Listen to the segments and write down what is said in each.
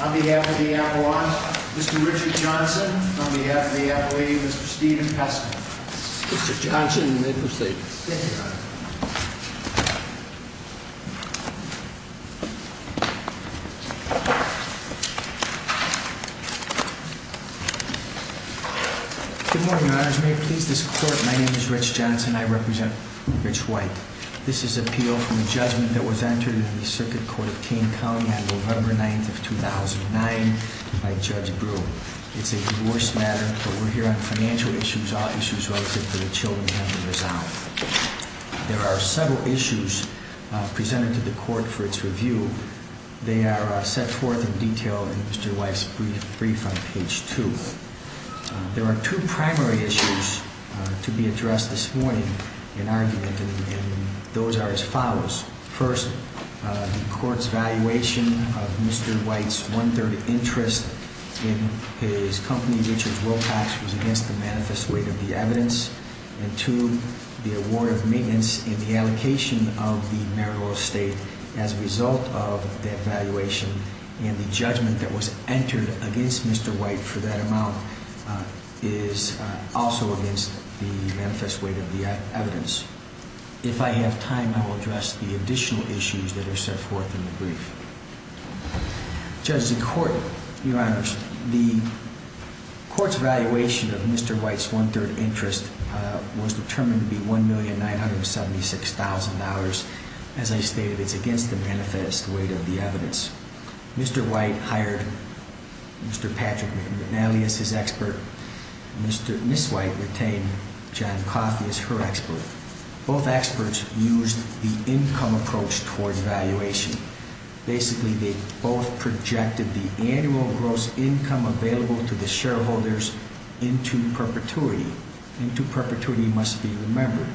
On behalf of the Appellant, Mr. Richard Johnson. On behalf of the Appellee, Mr. Stephen Peskin. Mr. Johnson, you may proceed. Thank you, Your Honor. Good morning, Your Honors. May it please this Court, my name is Rich Johnson. I represent Rich White. This is an appeal from a judgment that was entered in the Circuit Court of King County on November 9th of 2009 by Judge Brewer. It's a divorce matter, but we're here on financial issues, all issues relative to the children having a child. There are several issues presented to the Court for its review. They are set forth in detail in Mr. White's brief on page 2. There are two primary issues to be addressed this morning in argument, and those are as follows. First, the Court's valuation of Mr. White's one-third interest in his company, Richard Wilcox, was against the manifest weight of the evidence. And two, the award of maintenance in the allocation of the marital estate as a result of that valuation, and the judgment that was entered against Mr. White for that amount is also against the manifest weight of the evidence. If I have time, I will address the additional issues that are set forth in the brief. Judge, the Court, Your Honors, the Court's valuation of Mr. White's one-third interest was determined to be $1,976,000. As I stated, it's against the manifest weight of the evidence. Mr. White hired Mr. Patrick McNally as his expert. Ms. White retained John Coffey as her expert. Both experts used the income approach toward valuation. Basically, they both projected the annual gross income available to the shareholders into perpetuity. Into perpetuity must be remembered.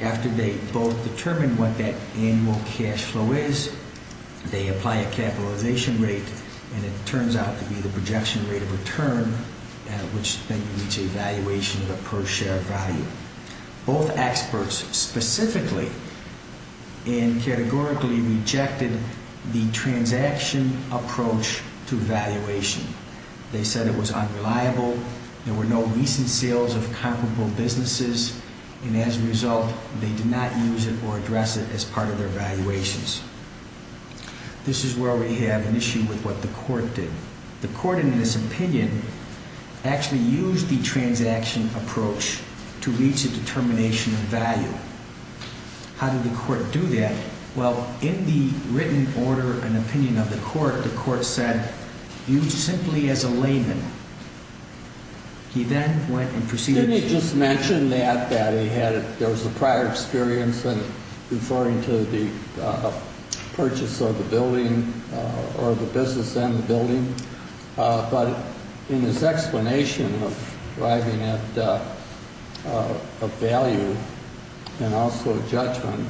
After they both determined what that annual cash flow is, they apply a capitalization rate, and it turns out to be the projection rate of return, which then leads to a valuation of the per share value. Both experts specifically and categorically rejected the transaction approach to valuation. They said it was unreliable. There were no recent sales of comparable businesses, and as a result, they did not use it or address it as part of their valuations. This is where we have an issue with what the Court did. The Court, in this opinion, actually used the transaction approach to reach a determination of value. How did the Court do that? Well, in the written order and opinion of the Court, the Court said, use simply as a layman. He then went and proceeded to- There was a prior experience in referring to the purchase of the building or the business in the building, but in his explanation of arriving at a value and also a judgment,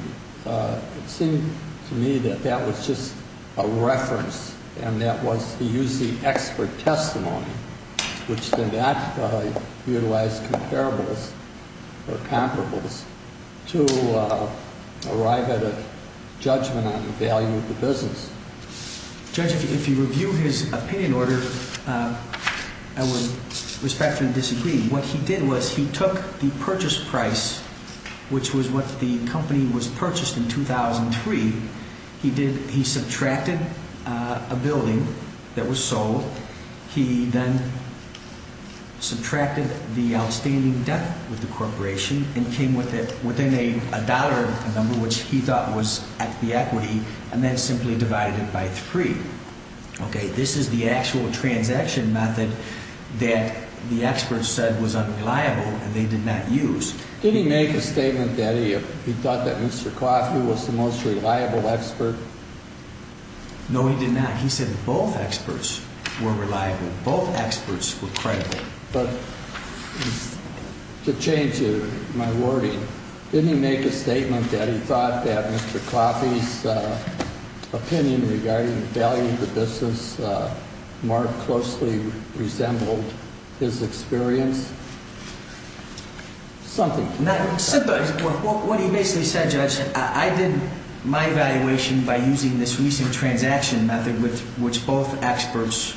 it seemed to me that that was just a reference and that was to use the expert testimony, which then that utilized comparables or comparables to arrive at a judgment on the value of the business. Judge, if you review his opinion order, I would respectfully disagree. What he did was he took the purchase price, which was what the company was purchased in 2003. He subtracted a building that was sold. He then subtracted the outstanding debt with the corporation and came with it within a dollar number, which he thought was the equity, and then simply divided it by three. This is the actual transaction method that the experts said was unreliable and they did not use. Did he make a statement that he thought that Mr. Coffey was the most reliable expert? No, he did not. He said both experts were reliable. Both experts were credible. But to change my wording, didn't he make a statement that he thought that Mr. Coffey's opinion regarding the value of the business more closely resembled his experience? Something. What he basically said, Judge, I did my evaluation by using this recent transaction method, which both experts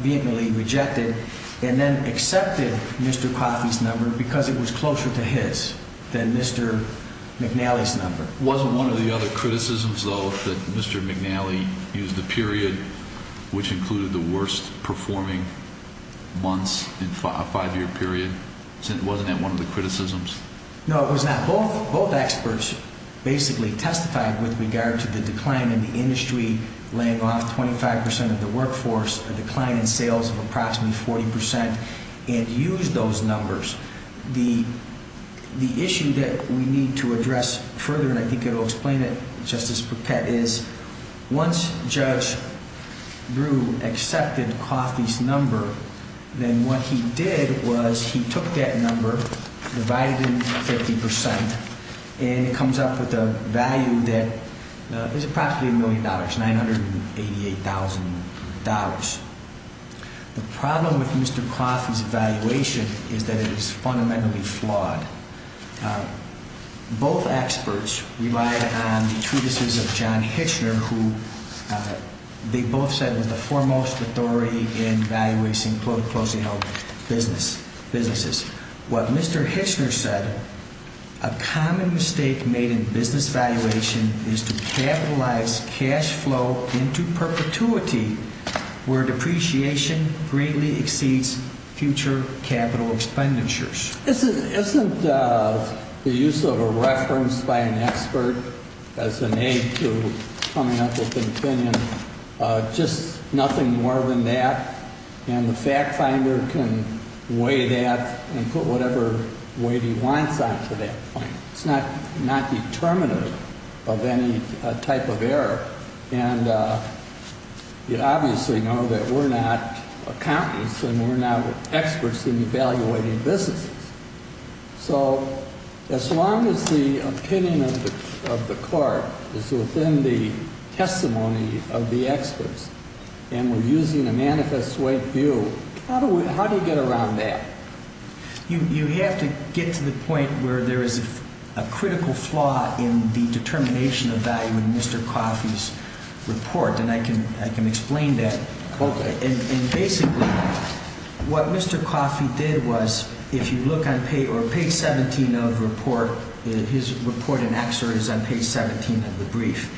vehemently rejected, and then accepted Mr. Coffey's number because it was closer to his than Mr. McNally's number. Wasn't one of the other criticisms, though, that Mr. McNally used the period which included the worst performing months in a five-year period? Wasn't that one of the criticisms? No, it was not. Both experts basically testified with regard to the decline in the industry, laying off 25 percent of the workforce, a decline in sales of approximately 40 percent, and used those numbers. The issue that we need to address further, and I think it will explain it, Justice Paquette, is once Judge Brewer accepted Coffey's number, then what he did was he took that number, divided it into 50 percent, and it comes up with a value that is approximately a million dollars, $988,000. The problem with Mr. Coffey's evaluation is that it is fundamentally flawed. Both experts relied on the treatises of John Hitchner, who they both said was the foremost authority in valuating closing-out businesses. What Mr. Hitchner said, a common mistake made in business valuation is to capitalize cash flow into perpetuity, where depreciation greatly exceeds future capital expenditures. Isn't the use of a reference by an expert as an aid to coming up with an opinion just nothing more than that? And the fact finder can weigh that and put whatever weight he wants on to that point. It's not determinative of any type of error. And you obviously know that we're not accountants and we're not experts in evaluating businesses. So as long as the opinion of the court is within the testimony of the experts, and we're using a manifest weight view, how do you get around that? You have to get to the point where there is a critical flaw in the determination of value in Mr. Coffey's report. And I can explain that. Okay. And basically, what Mr. Coffey did was, if you look on page 17 of the report, his report in excerpt is on page 17 of the brief.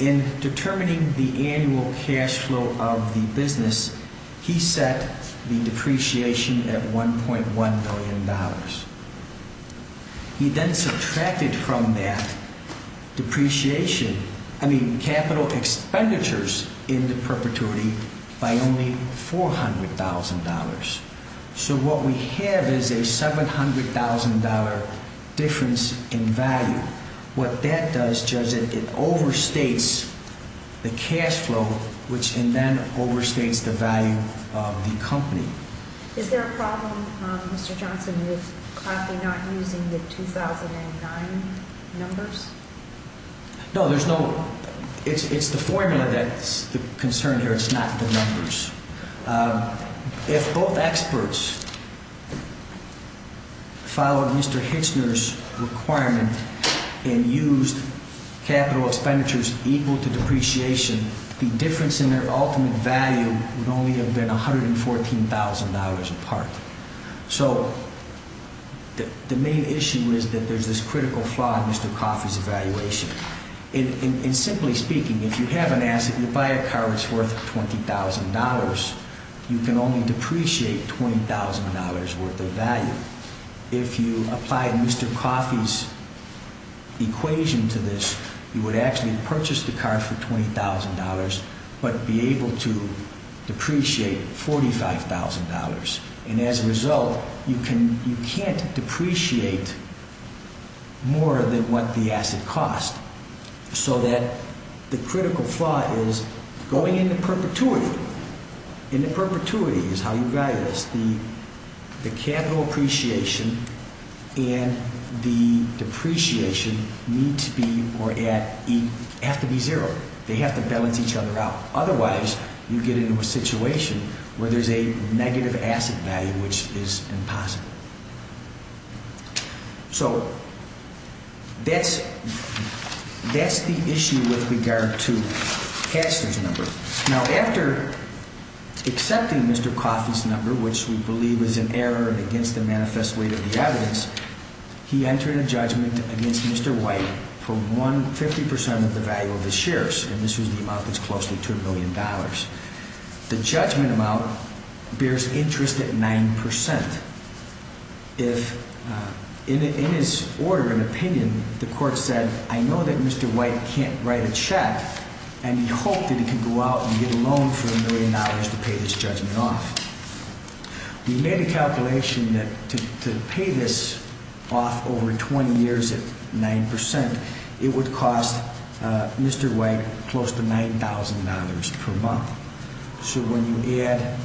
In determining the annual cash flow of the business, he set the depreciation at $1.1 billion. He then subtracted from that depreciation, I mean capital expenditures into perpetuity by only $400,000. So what we have is a $700,000 difference in value. What that does, Judge, is it overstates the cash flow, which then overstates the value of the company. Is there a problem, Mr. Johnson, with Coffey not using the 2009 numbers? No, there's no. It's the formula that's the concern here. It's not the numbers. If both experts followed Mr. Hitchner's requirement and used capital expenditures equal to depreciation, the difference in their ultimate value would only have been $114,000 apart. So the main issue is that there's this critical flaw in Mr. Coffey's evaluation. And simply speaking, if you have an asset, you buy a car that's worth $20,000, you can only depreciate $20,000 worth of value. If you apply Mr. Coffey's equation to this, you would actually purchase the car for $20,000 but be able to depreciate $45,000. And as a result, you can't depreciate more than what the asset costs. So the critical flaw is going into perpetuity. And the perpetuity is how you value this. The capital appreciation and the depreciation need to be or have to be zero. They have to balance each other out. Otherwise, you get into a situation where there's a negative asset value, which is impossible. So that's the issue with regard to Hatchner's number. Now, after accepting Mr. Coffey's number, which we believe is an error against the manifest weight of the evidence, he entered a judgment against Mr. White for 50% of the value of his shares. And this was the amount that's close to $2 million. The judgment amount bears interest at 9%. In his order and opinion, the court said, I know that Mr. White can't write a check, and he hoped that he could go out and get a loan for $1 million to pay this judgment off. We made a calculation that to pay this off over 20 years at 9%, it would cost Mr. White close to $9,000 per month. So when you add,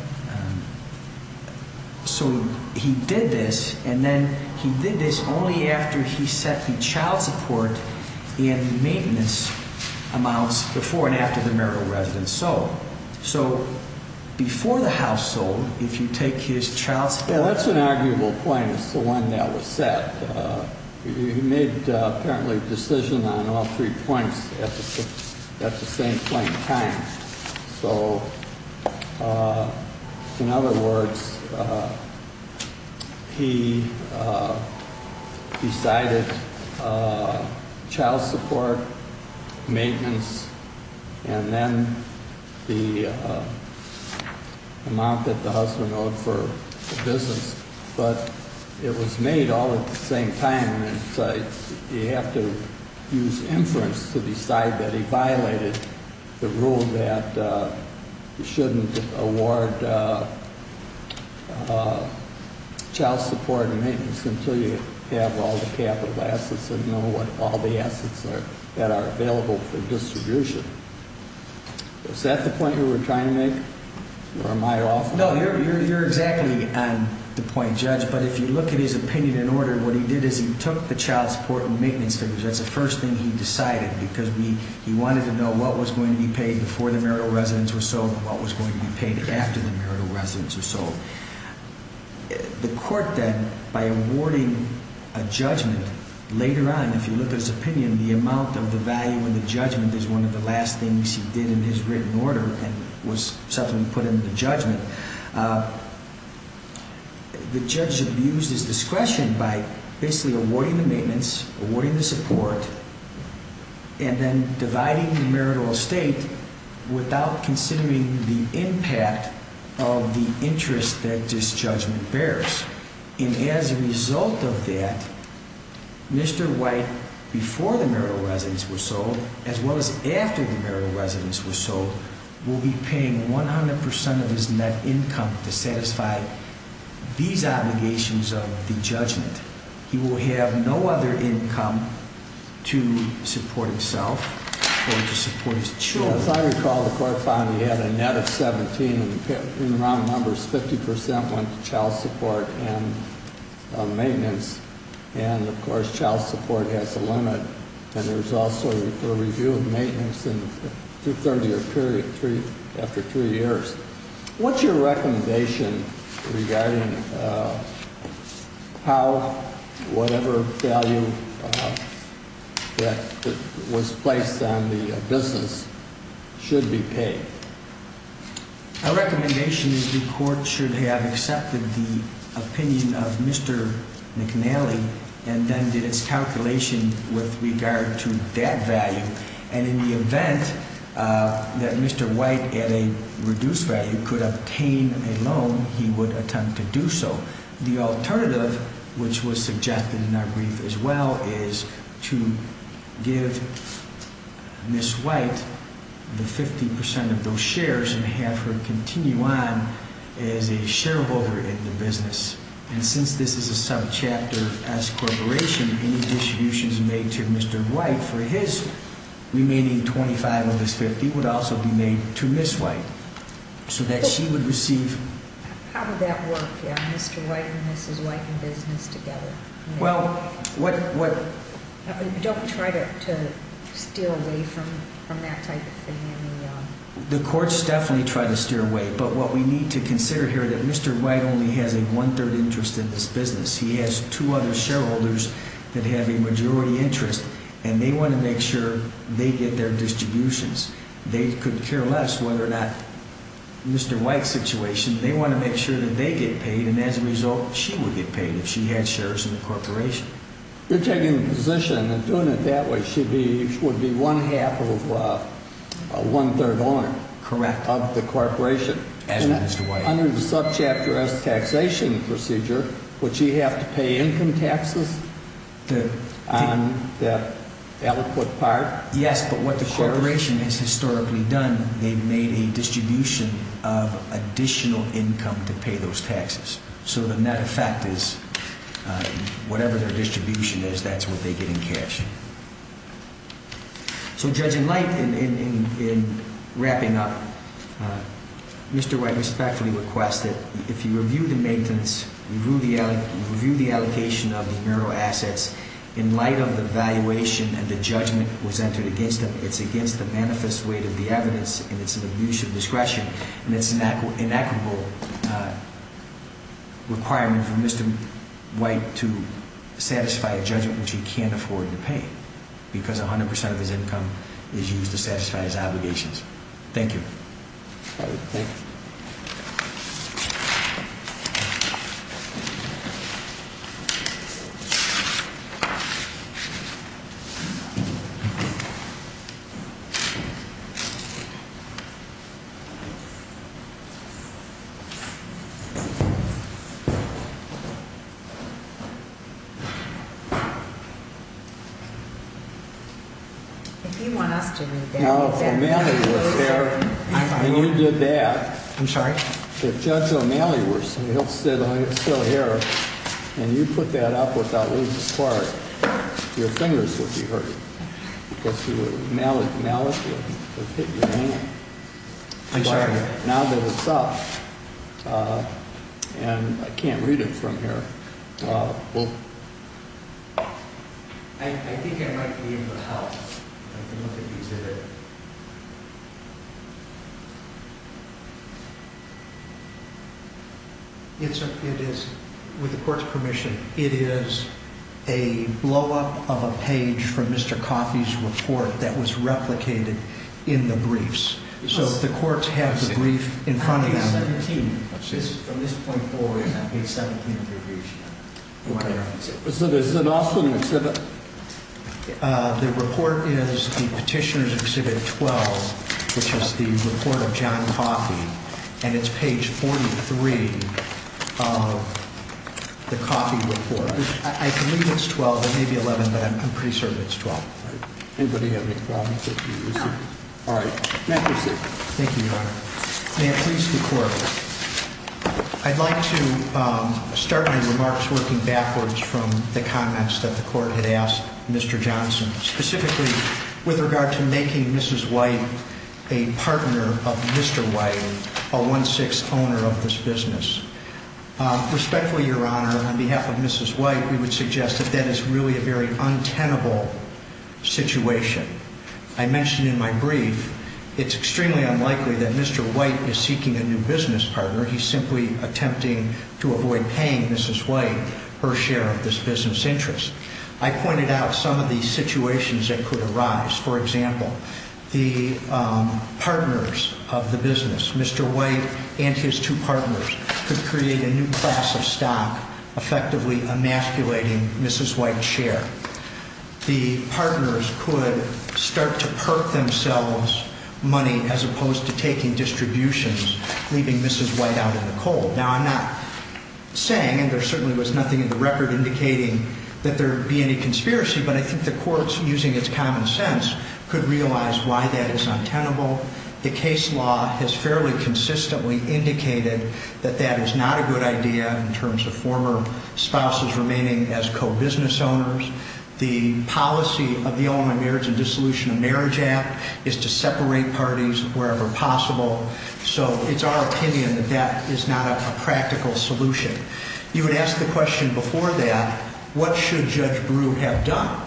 so he did this, and then he did this only after he set the child support and maintenance amounts before and after the marital residence sold. So, before the house sold, if you take his child support Well, that's an arguable point. It's the one that was set. He made, apparently, a decision on all three points at the same point in time. So, in other words, he decided child support, maintenance, and then the amount that the husband owed for business. But it was made all at the same time. You have to use inference to decide that he violated the rule that you shouldn't award child support and maintenance until you have all the capital assets and know what all the assets are that are available for distribution. Is that the point you were trying to make, or am I off? No, you're exactly on the point, Judge. But if you look at his opinion in order, what he did is he took the child support and maintenance figures. That's the first thing he decided because he wanted to know what was going to be paid before the marital residence was sold and what was going to be paid after the marital residence was sold. The court then, by awarding a judgment later on, if you look at his opinion, the amount of the value of the judgment is one of the last things he did in his written order and was subsequently put into the judgment. The judge abused his discretion by basically awarding the maintenance, awarding the support, and then dividing the marital estate without considering the impact of the interest that this judgment bears. And as a result of that, Mr. White, before the marital residence was sold, as well as after the marital residence was sold, will be paying 100% of his net income to satisfy these obligations of the judgment. He will have no other income to support himself or to support his children. As I recall, the court found he had a net of $17,000, and in round numbers, 50% went to child support and maintenance. And, of course, child support has a limit. And there's also a review of maintenance in the two-third year period after three years. What's your recommendation regarding how whatever value that was placed on the business should be paid? Our recommendation is the court should have accepted the opinion of Mr. McNally and then did its calculation with regard to that value. And in the event that Mr. White, at a reduced value, could obtain a loan, he would attempt to do so. The alternative, which was suggested in our brief as well, is to give Miss White the 50% of those shares and have her continue on as a shareholder in the business. And since this is a subchapter S corporation, any distributions made to Mr. White for his remaining 25 of his 50 would also be made to Miss White, so that she would receive. How would that work, Mr. White and Mrs. White in business together? Well, what... Don't try to steer away from that type of thing. The court's definitely trying to steer away, but what we need to consider here is that Mr. White only has a one-third interest in this business. He has two other shareholders that have a majority interest, and they want to make sure they get their distributions. They could care less whether or not Mr. White's situation. They want to make sure that they get paid, and as a result, she would get paid if she had shares in the corporation. You're taking the position that doing it that way would be one-half of a one-third loan of the corporation. Correct. Under the subchapter S taxation procedure, would she have to pay income taxes on the eloquent part? Yes, but what the corporation has historically done, they've made a distribution of additional income to pay those taxes. So the net effect is whatever their distribution is, that's what they get in cash. So, judging light, in wrapping up, Mr. White respectfully requests that if you review the maintenance, review the allocation of the marital assets, in light of the valuation and the judgment was entered against them, it's against the manifest weight of the evidence, and it's an abuse of discretion, and it's an inequitable requirement for Mr. White to satisfy a judgment which he can't afford to pay, because 100% of his income is used to satisfy his obligations. Thank you. Thank you. If you want us to read that. Now, if O'Malley was there and you did that. I'm sorry? If Judge O'Malley were still here and you put that up without losing a part, your fingers would be hurt. Because O'Malley would have hit your hand. I'm sorry? Now that it's up, and I can't read it from here. I think I might be able to help. I don't know if you did it. It is, with the court's permission, it is a blow-up of a page from Mr. Coffey's report that was replicated in the briefs. So the courts have the brief in front of them. Page 17. Let's see. From this point forward, that page 17 of your brief should have it. Okay. So this is an Austin exhibit? The report is the Petitioner's Exhibit 12, which is the report of John Coffey. And it's page 43 of the Coffey report. I believe it's 12. It may be 11, but I'm pretty certain it's 12. Anybody have any comments? No. All right. May I proceed? Thank you, Your Honor. May it please the Court, I'd like to start my remarks working backwards from the comments that the Court had asked Mr. Johnson, specifically with regard to making Mrs. White a partner of Mr. White, a one-sixth owner of this business. Respectfully, Your Honor, on behalf of Mrs. White, we would suggest that that is really a very untenable situation. I mentioned in my brief, it's extremely unlikely that Mr. White is seeking a new business partner. He's simply attempting to avoid paying Mrs. White her share of this business interest. I pointed out some of the situations that could arise. For example, the partners of the business, Mr. White and his two partners, could create a new class of stock, effectively emasculating Mrs. White's share. The partners could start to perk themselves money as opposed to taking distributions, leaving Mrs. White out of the cold. Now, I'm not saying, and there certainly was nothing in the record indicating that there would be any conspiracy, but I think the Court, using its common sense, could realize why that is untenable. The case law has fairly consistently indicated that that is not a good idea in terms of former spouses remaining as co-business owners. The policy of the Illinois Marriage and Dissolution of Marriage Act is to separate parties wherever possible, so it's our opinion that that is not a practical solution. You had asked the question before that, what should Judge Brew have done?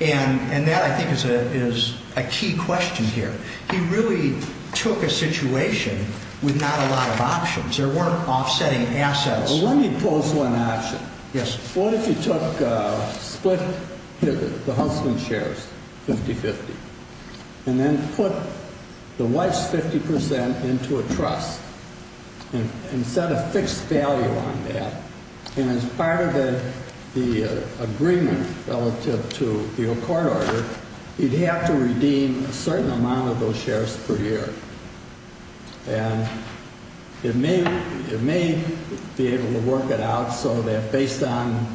And that, I think, is a key question here. He really took a situation with not a lot of options. There weren't offsetting assets. Well, let me pose one option. Yes. What if you took split the husband's shares, 50-50, and then put the wife's 50 percent into a trust and set a fixed value on that? And as part of the agreement relative to the accord order, you'd have to redeem a certain amount of those shares per year. And it may be able to work it out so that based on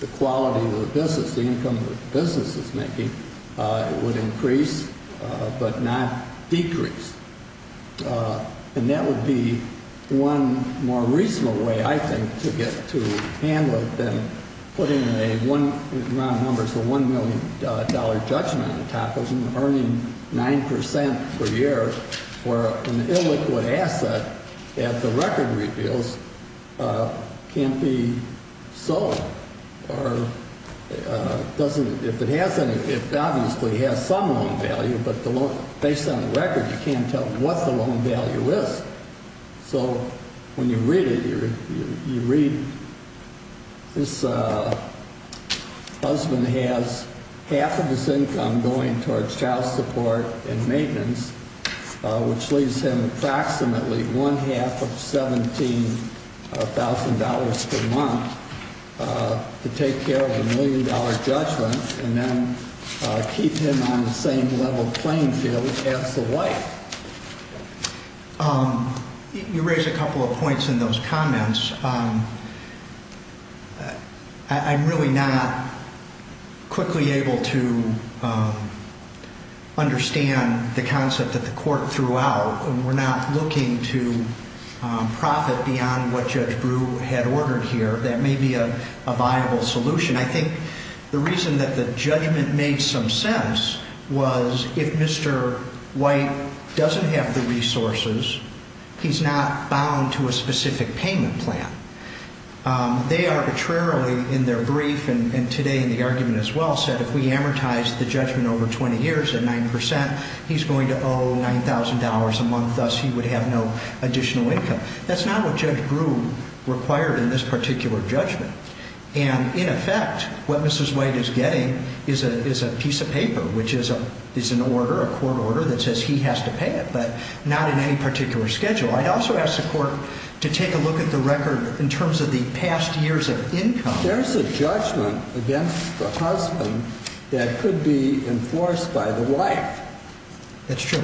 the quality of the business, the income the business is making, it would increase but not decrease. And that would be one more reasonable way, I think, to get to handle it than putting an amount of numbers of $1 million judgment on top of it and earning 9 percent per year for an illiquid asset that the record reveals can't be sold. It obviously has some loan value, but based on the record you can't tell what the loan value is. So when you read it, you read this husband has half of his income going towards child support and maintenance, which leaves him approximately one half of $17,000 per month to take care of the million-dollar judgment and then keep him on the same level playing field as the wife. You raise a couple of points in those comments. I'm really not quickly able to understand the concept that the court threw out. We're not looking to profit beyond what Judge Brewer had ordered here. That may be a viable solution. I think the reason that the judgment made some sense was if Mr. White doesn't have the resources, he's not bound to a specific payment plan. They arbitrarily in their brief and today in the argument as well said if we amortize the judgment over 20 years at 9 percent, he's going to owe $9,000 a month, thus he would have no additional income. That's not what Judge Brewer required in this particular judgment. And in effect, what Mrs. White is getting is a piece of paper, which is an order, a court order that says he has to pay it, but not in any particular schedule. I also ask the court to take a look at the record in terms of the past years of income. There's a judgment against the husband that could be enforced by the wife. That's true.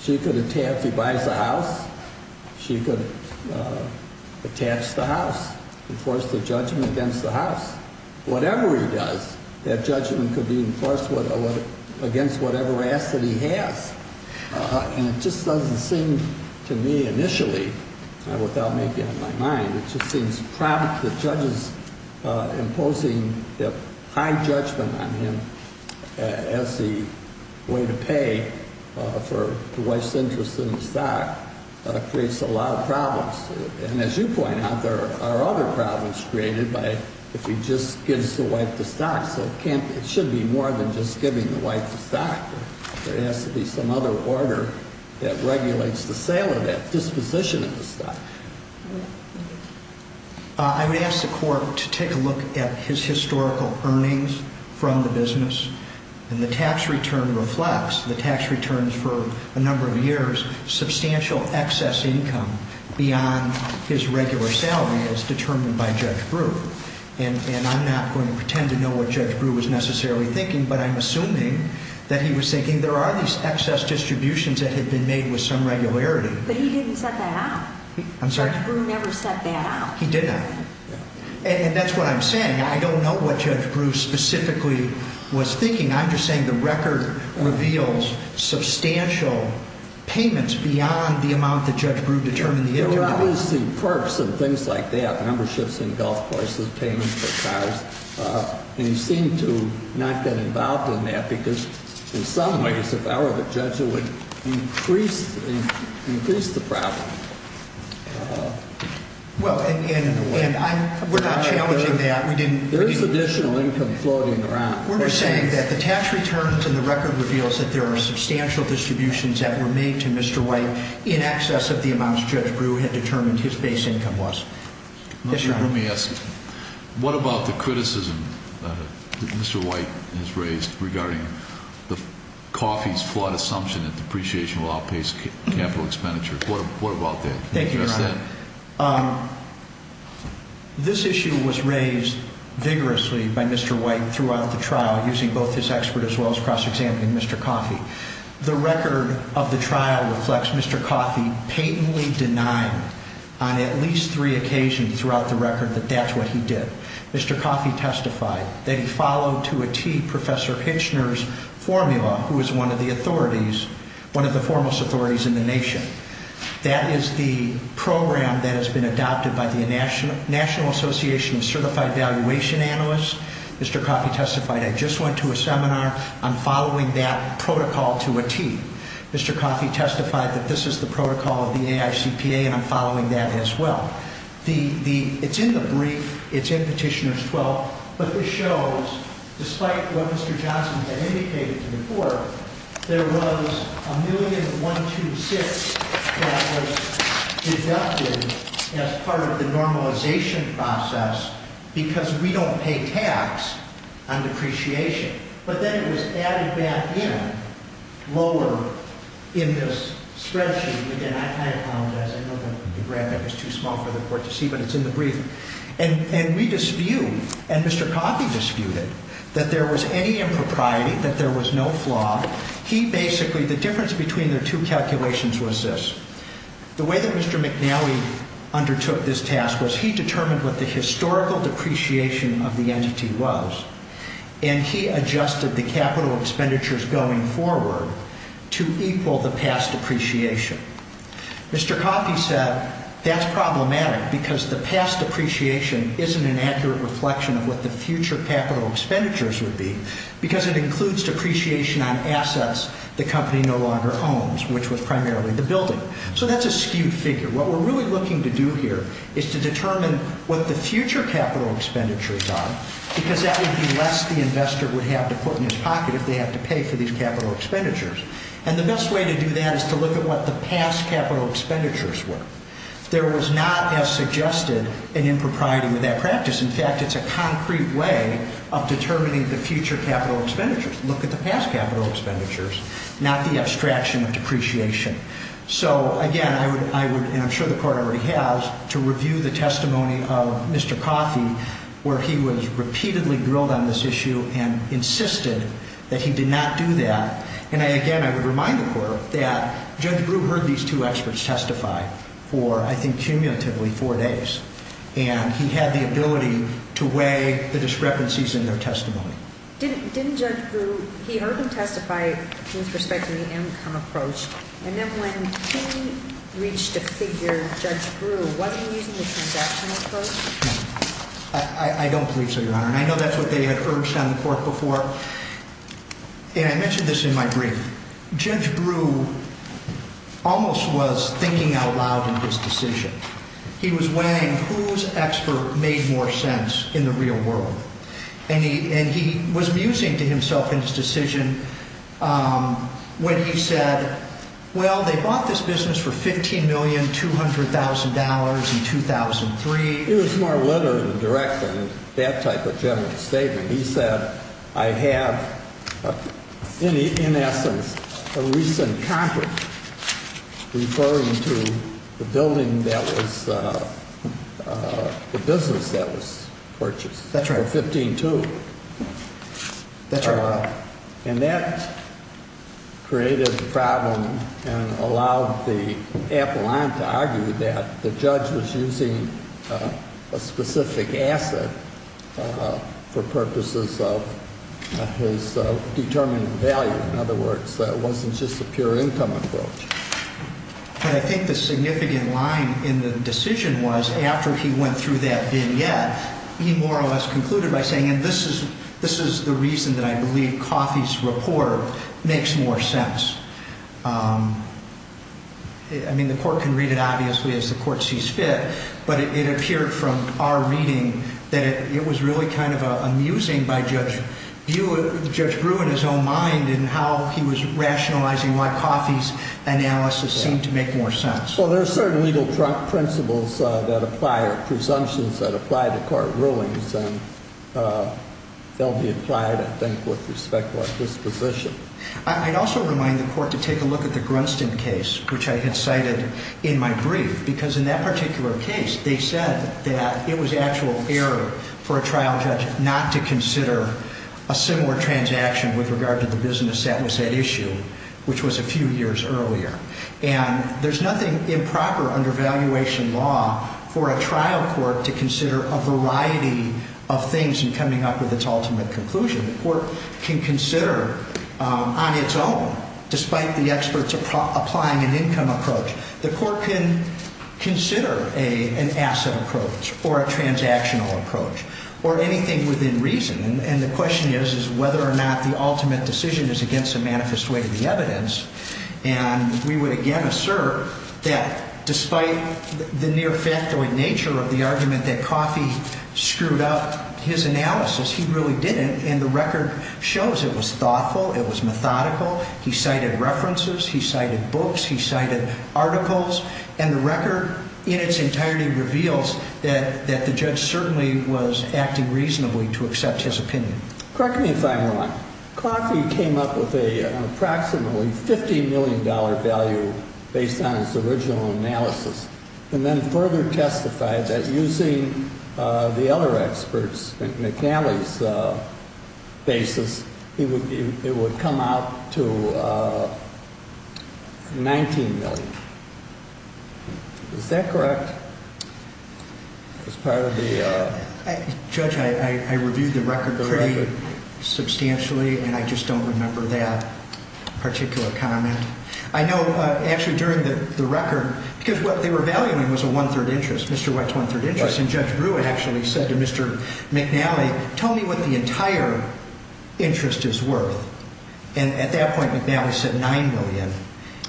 She could, if he buys a house, she could attach the house, enforce the judgment against the house. Whatever he does, that judgment could be enforced against whatever asset he has. And it just doesn't seem to me initially, without making up my mind, it just seems the judges imposing the high judgment on him as the way to pay for the wife's interest in the stock creates a lot of problems. And as you point out, there are other problems created by if he just gives the wife the stock. It should be more than just giving the wife the stock. There has to be some other order that regulates the sale of that disposition of the stock. I would ask the court to take a look at his historical earnings from the business. And the tax return reflects the tax returns for a number of years, substantial excess income beyond his regular salary as determined by Judge Brewer. And I'm not going to pretend to know what Judge Brewer was necessarily thinking, but I'm assuming that he was thinking there are these excess distributions that had been made with some regularity. But he didn't set that out. I'm sorry? Judge Brewer never set that out. He did not. And that's what I'm saying. I don't know what Judge Brewer specifically was thinking. I'm just saying the record reveals substantial payments beyond the amount that Judge Brewer determined the income to be. What is the purpose of things like that, memberships in golf courses, payments for cars? And he seemed to not get involved in that because in some ways, if I were the judge, it would increase the problem. Well, and we're not challenging that. There is additional income floating around. We're just saying that the tax returns in the record reveals that there are substantial distributions that were made to Mr. White in excess of the amounts Judge Brewer had determined his base income was. Let me ask, what about the criticism that Mr. White has raised regarding the coffee's flawed assumption that depreciation will outpace capital expenditures? What about that? Thank you, Your Honor. This issue was raised vigorously by Mr. White throughout the trial using both his expert as well as cross-examining Mr. Coffey. The record of the trial reflects Mr. Coffey patently denying on at least three occasions throughout the record that that's what he did. Mr. Coffey testified that he followed to a tee Professor Hitchner's formula, who was one of the authorities, one of the foremost authorities in the nation. That is the program that has been adopted by the National Association of Certified Valuation Analysts. Mr. Coffey testified, I just went to a seminar. I'm following that protocol to a tee. Mr. Coffey testified that this is the protocol of the AICPA, and I'm following that as well. It's in the brief. It's in Petitioner's 12. But this shows, despite what Mr. Johnson had indicated to the court, there was $1,000,0126 that was deducted as part of the normalization process because we don't pay tax on depreciation. But then it was added back in lower in this spreadsheet. Again, I apologize. I know the graphic is too small for the court to see, but it's in the brief. And we dispute, and Mr. Coffey disputed, that there was any impropriety, that there was no flaw. He basically, the difference between the two calculations was this. The way that Mr. McNally undertook this task was he determined what the historical depreciation of the entity was, and he adjusted the capital expenditures going forward to equal the past depreciation. Mr. Coffey said that's problematic because the past depreciation isn't an accurate reflection of what the future capital expenditures would be because it includes depreciation on assets the company no longer owns, which was primarily the building. So that's a skewed figure. What we're really looking to do here is to determine what the future capital expenditures are because that would be less the investor would have to put in his pocket if they have to pay for these capital expenditures. And the best way to do that is to look at what the past capital expenditures were. There was not, as suggested, an impropriety with that practice. In fact, it's a concrete way of determining the future capital expenditures. Look at the past capital expenditures, not the abstraction of depreciation. So, again, I would, and I'm sure the court already has, to review the testimony of Mr. Coffey where he was repeatedly grilled on this issue and insisted that he did not do that. And, again, I would remind the court that Judge Brewer heard these two experts testify for, I think, cumulatively four days. And he had the ability to weigh the discrepancies in their testimony. Didn't Judge Brewer, he heard them testify with respect to the income approach. And then when he reached a figure, Judge Brewer wasn't using the transactional approach? No. I don't believe so, Your Honor. And I know that's what they had urged on the court before. And I mentioned this in my brief. Judge Brewer almost was thinking out loud in his decision. He was weighing whose expert made more sense in the real world. And he was musing to himself in his decision when he said, well, they bought this business for $15,200,000 in 2003. It was more literal in the direction of that type of general statement. He said, I have, in essence, a recent contract referring to the building that was, the business that was purchased. That's right. For $15,200. That's right. And that created a problem and allowed the appellant to argue that the judge was using a specific asset for purposes of his determined value. In other words, it wasn't just a pure income approach. But I think the significant line in the decision was, after he went through that vignette, he more or less concluded by saying, and this is the reason that I believe Coffey's report makes more sense. I mean, the court can read it, obviously, as the court sees fit. But it appeared from our reading that it was really kind of amusing by Judge Brewer in his own mind in how he was rationalizing why Coffey's analysis seemed to make more sense. Well, there are certain legal principles that apply or presumptions that apply to court rulings. And they'll be applied, I think, with respect to our disposition. I'd also remind the court to take a look at the Grunston case, which I had cited in my brief. Because in that particular case, they said that it was actual error for a trial judge not to consider a similar transaction with regard to the business asset issue, which was a few years earlier. And there's nothing improper under valuation law for a trial court to consider a variety of things in coming up with its ultimate conclusion. The court can consider on its own, despite the experts applying an income approach. The court can consider an asset approach or a transactional approach or anything within reason. And the question is whether or not the ultimate decision is against the manifest way of the evidence. And we would, again, assert that despite the near facto nature of the argument that Coffey screwed up his analysis, he really didn't. And the record shows it was thoughtful. It was methodical. He cited references. He cited books. He cited articles. And the record in its entirety reveals that the judge certainly was acting reasonably to accept his opinion. Correct me if I'm wrong. Coffey came up with an approximately $50 million value based on his original analysis and then further testified that using the other experts, McNally's basis, it would come out to $19 million. Is that correct as part of the? Judge, I reviewed the record pretty substantially, and I just don't remember that particular comment. I know actually during the record, because what they were valuing was a one-third interest. Mr. Wett's one-third interest. And Judge Brewer actually said to Mr. McNally, tell me what the entire interest is worth. And at that point, McNally said $9 million.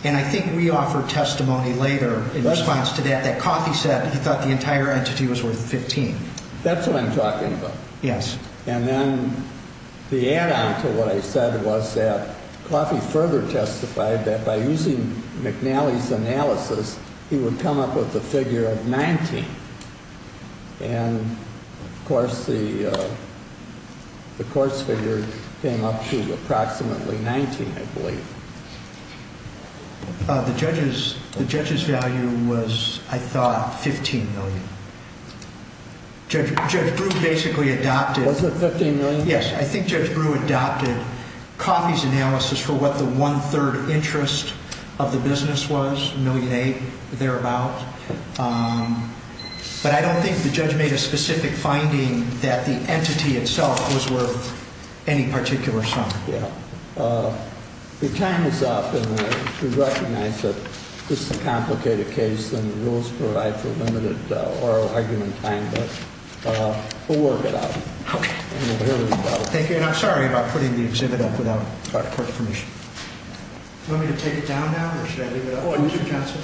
And I think we offered testimony later in response to that that Coffey said he thought the entire entity was worth $15. That's what I'm talking about. Yes. And then the add-on to what I said was that Coffey further testified that by using McNally's analysis, he would come up with a figure of $19. And, of course, the court's figure came up to approximately $19, I believe. The judge's value was, I thought, $15 million. Judge Brewer basically adopted. Was it $15 million? Yes. I think Judge Brewer adopted Coffey's analysis for what the one-third interest of the business was, $1.8 million, thereabout. But I don't think the judge made a specific finding that the entity itself was worth any particular sum. The time is up. And we recognize that this is a complicated case and the rules provide for limited oral argument time. But we'll work it out. Okay. Thank you. And I'm sorry about putting the exhibit up without court permission. Do you want me to take it down now or should I leave it up? Oh, use it, counsel.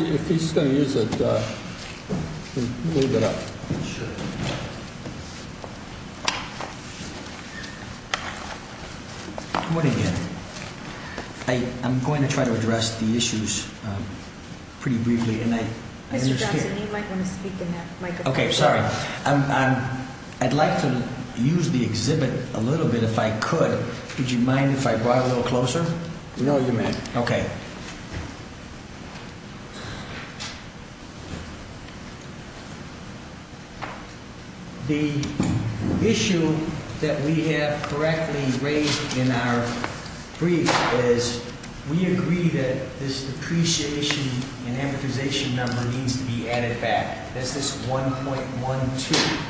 If he's going to use it, we'll leave it up. Sure. I'm going to try to address the issues pretty briefly. Mr. Johnson, you might want to speak in that microphone. Okay. Sorry. I'd like to use the exhibit a little bit if I could. Would you mind if I brought it a little closer? No, you may. Okay. The issue that we have correctly raised in our brief is we agree that this depreciation and amortization number needs to be added back. That's this 1.12.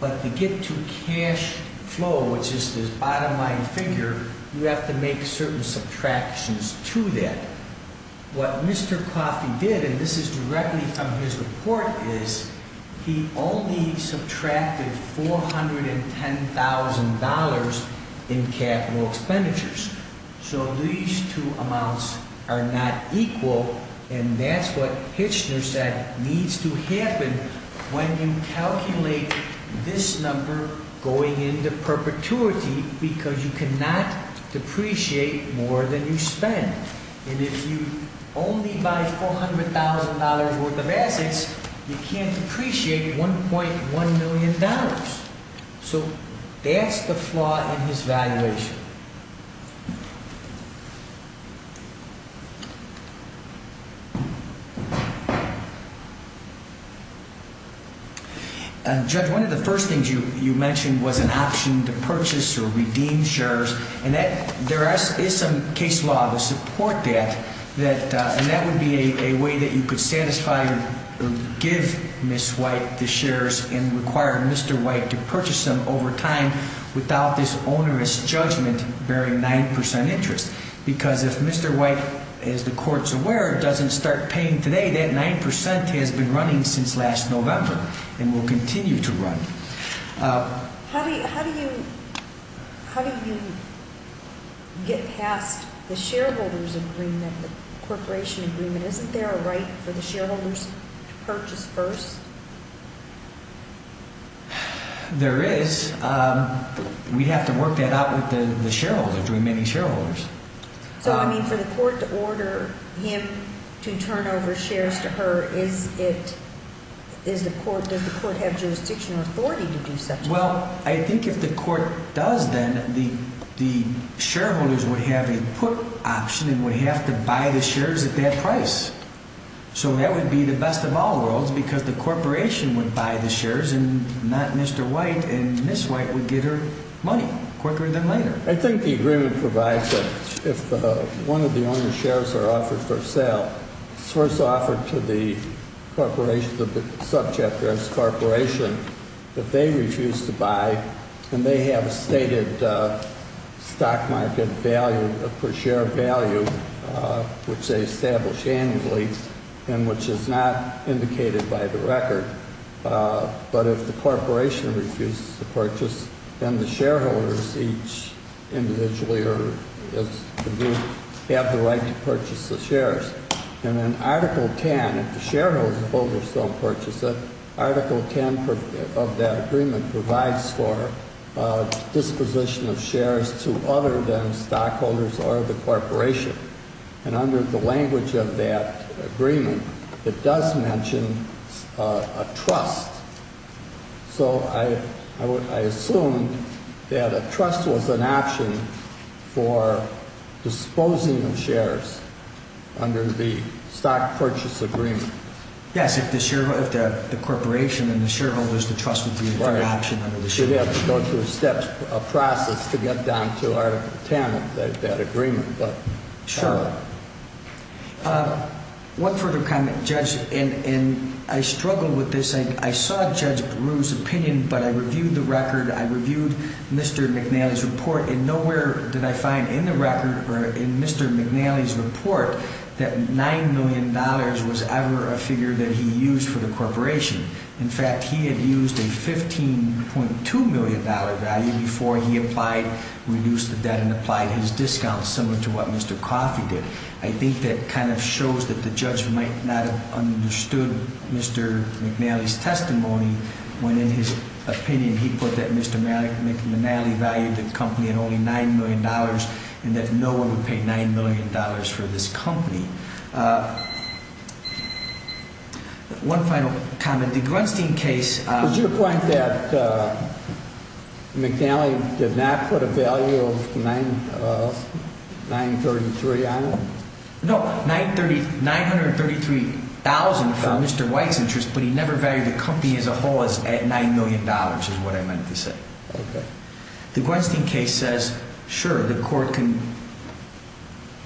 But to get to cash flow, which is this bottom line figure, you have to make certain subtractions to that. What Mr. Coffey did, and this is directly from his report, is he only subtracted $410,000 in capital expenditures. So these two amounts are not equal, and that's what Hitchner said needs to happen when you calculate this number going into perpetuity because you cannot depreciate more than you spend. And if you only buy $400,000 worth of assets, you can't depreciate $1.1 million. So that's the flaw in his valuation. Thank you. Judge, one of the first things you mentioned was an option to purchase or redeem shares. And there is some case law to support that, and that would be a way that you could satisfy or give Ms. White the shares and require Mr. White to purchase them over time without this onerous judgment bearing 9 percent interest. Because if Mr. White, as the Court's aware, doesn't start paying today, that 9 percent has been running since last November and will continue to run. How do you get past the shareholders' agreement, the corporation agreement? Isn't there a right for the shareholders to purchase first? There is. We'd have to work that out with the shareholder, between many shareholders. So, I mean, for the Court to order him to turn over shares to her, does the Court have jurisdiction or authority to do such a thing? Well, I think if the Court does then, the shareholders would have a put option and would have to buy the shares at that price. So that would be the best of all worlds because the corporation would buy the shares and not Mr. White, and Ms. White would get her money, corporate them later. I think the agreement provides that if one of the owner's shares are offered for sale, it's first offered to the corporation, the subject, or its corporation, that they refuse to buy and they have a stated stock market value, per share value, which they establish annually and which is not indicated by the record. But if the corporation refuses to purchase, then the shareholders each individually or as a group have the right to purchase the shares. And in Article 10, if the shareholders of Holder's don't purchase it, Article 10 of that agreement provides for disposition of shares to other than stockholders or the corporation. And under the language of that agreement, it does mention a trust. So I assume that a trust was an option for disposing of shares under the stock purchase agreement. Yes, if the corporation and the shareholders, the trust would be an option. We should have to go through a step process to get down to Article 10 of that agreement. Sure. One further comment, Judge, and I struggle with this. I saw Judge Brewer's opinion, but I reviewed the record, I reviewed Mr. McNally's report, and nowhere did I find in the record or in Mr. McNally's report that $9 million was ever a figure that he used for the corporation. In fact, he had used a $15.2 million value before he applied, reduced the debt, and applied his discount, similar to what Mr. Coffey did. I think that kind of shows that the judge might not have understood Mr. McNally's testimony when, in his opinion, he put that Mr. McNally valued the company at only $9 million and that no one would pay $9 million for this company. One final comment. The Grunstein case… Was your point that McNally did not put a value of $933,000 on it? No, $933,000 for Mr. White's interest, but he never valued the company as a whole at $9 million, is what I meant to say. The Grunstein case says, sure, the court can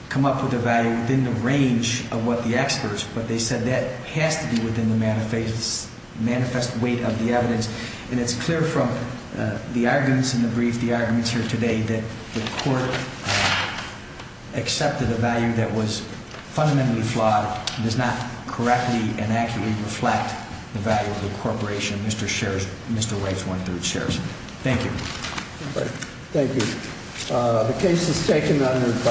come up with a value within the range of what the experts, but they said that has to be within the manifest weight of the evidence, and it's clear from the arguments in the brief, the arguments here today, that the court accepted a value that was fundamentally flawed, does not correctly and accurately reflect the value of the corporation Mr. White's went through. Thank you. Thank you.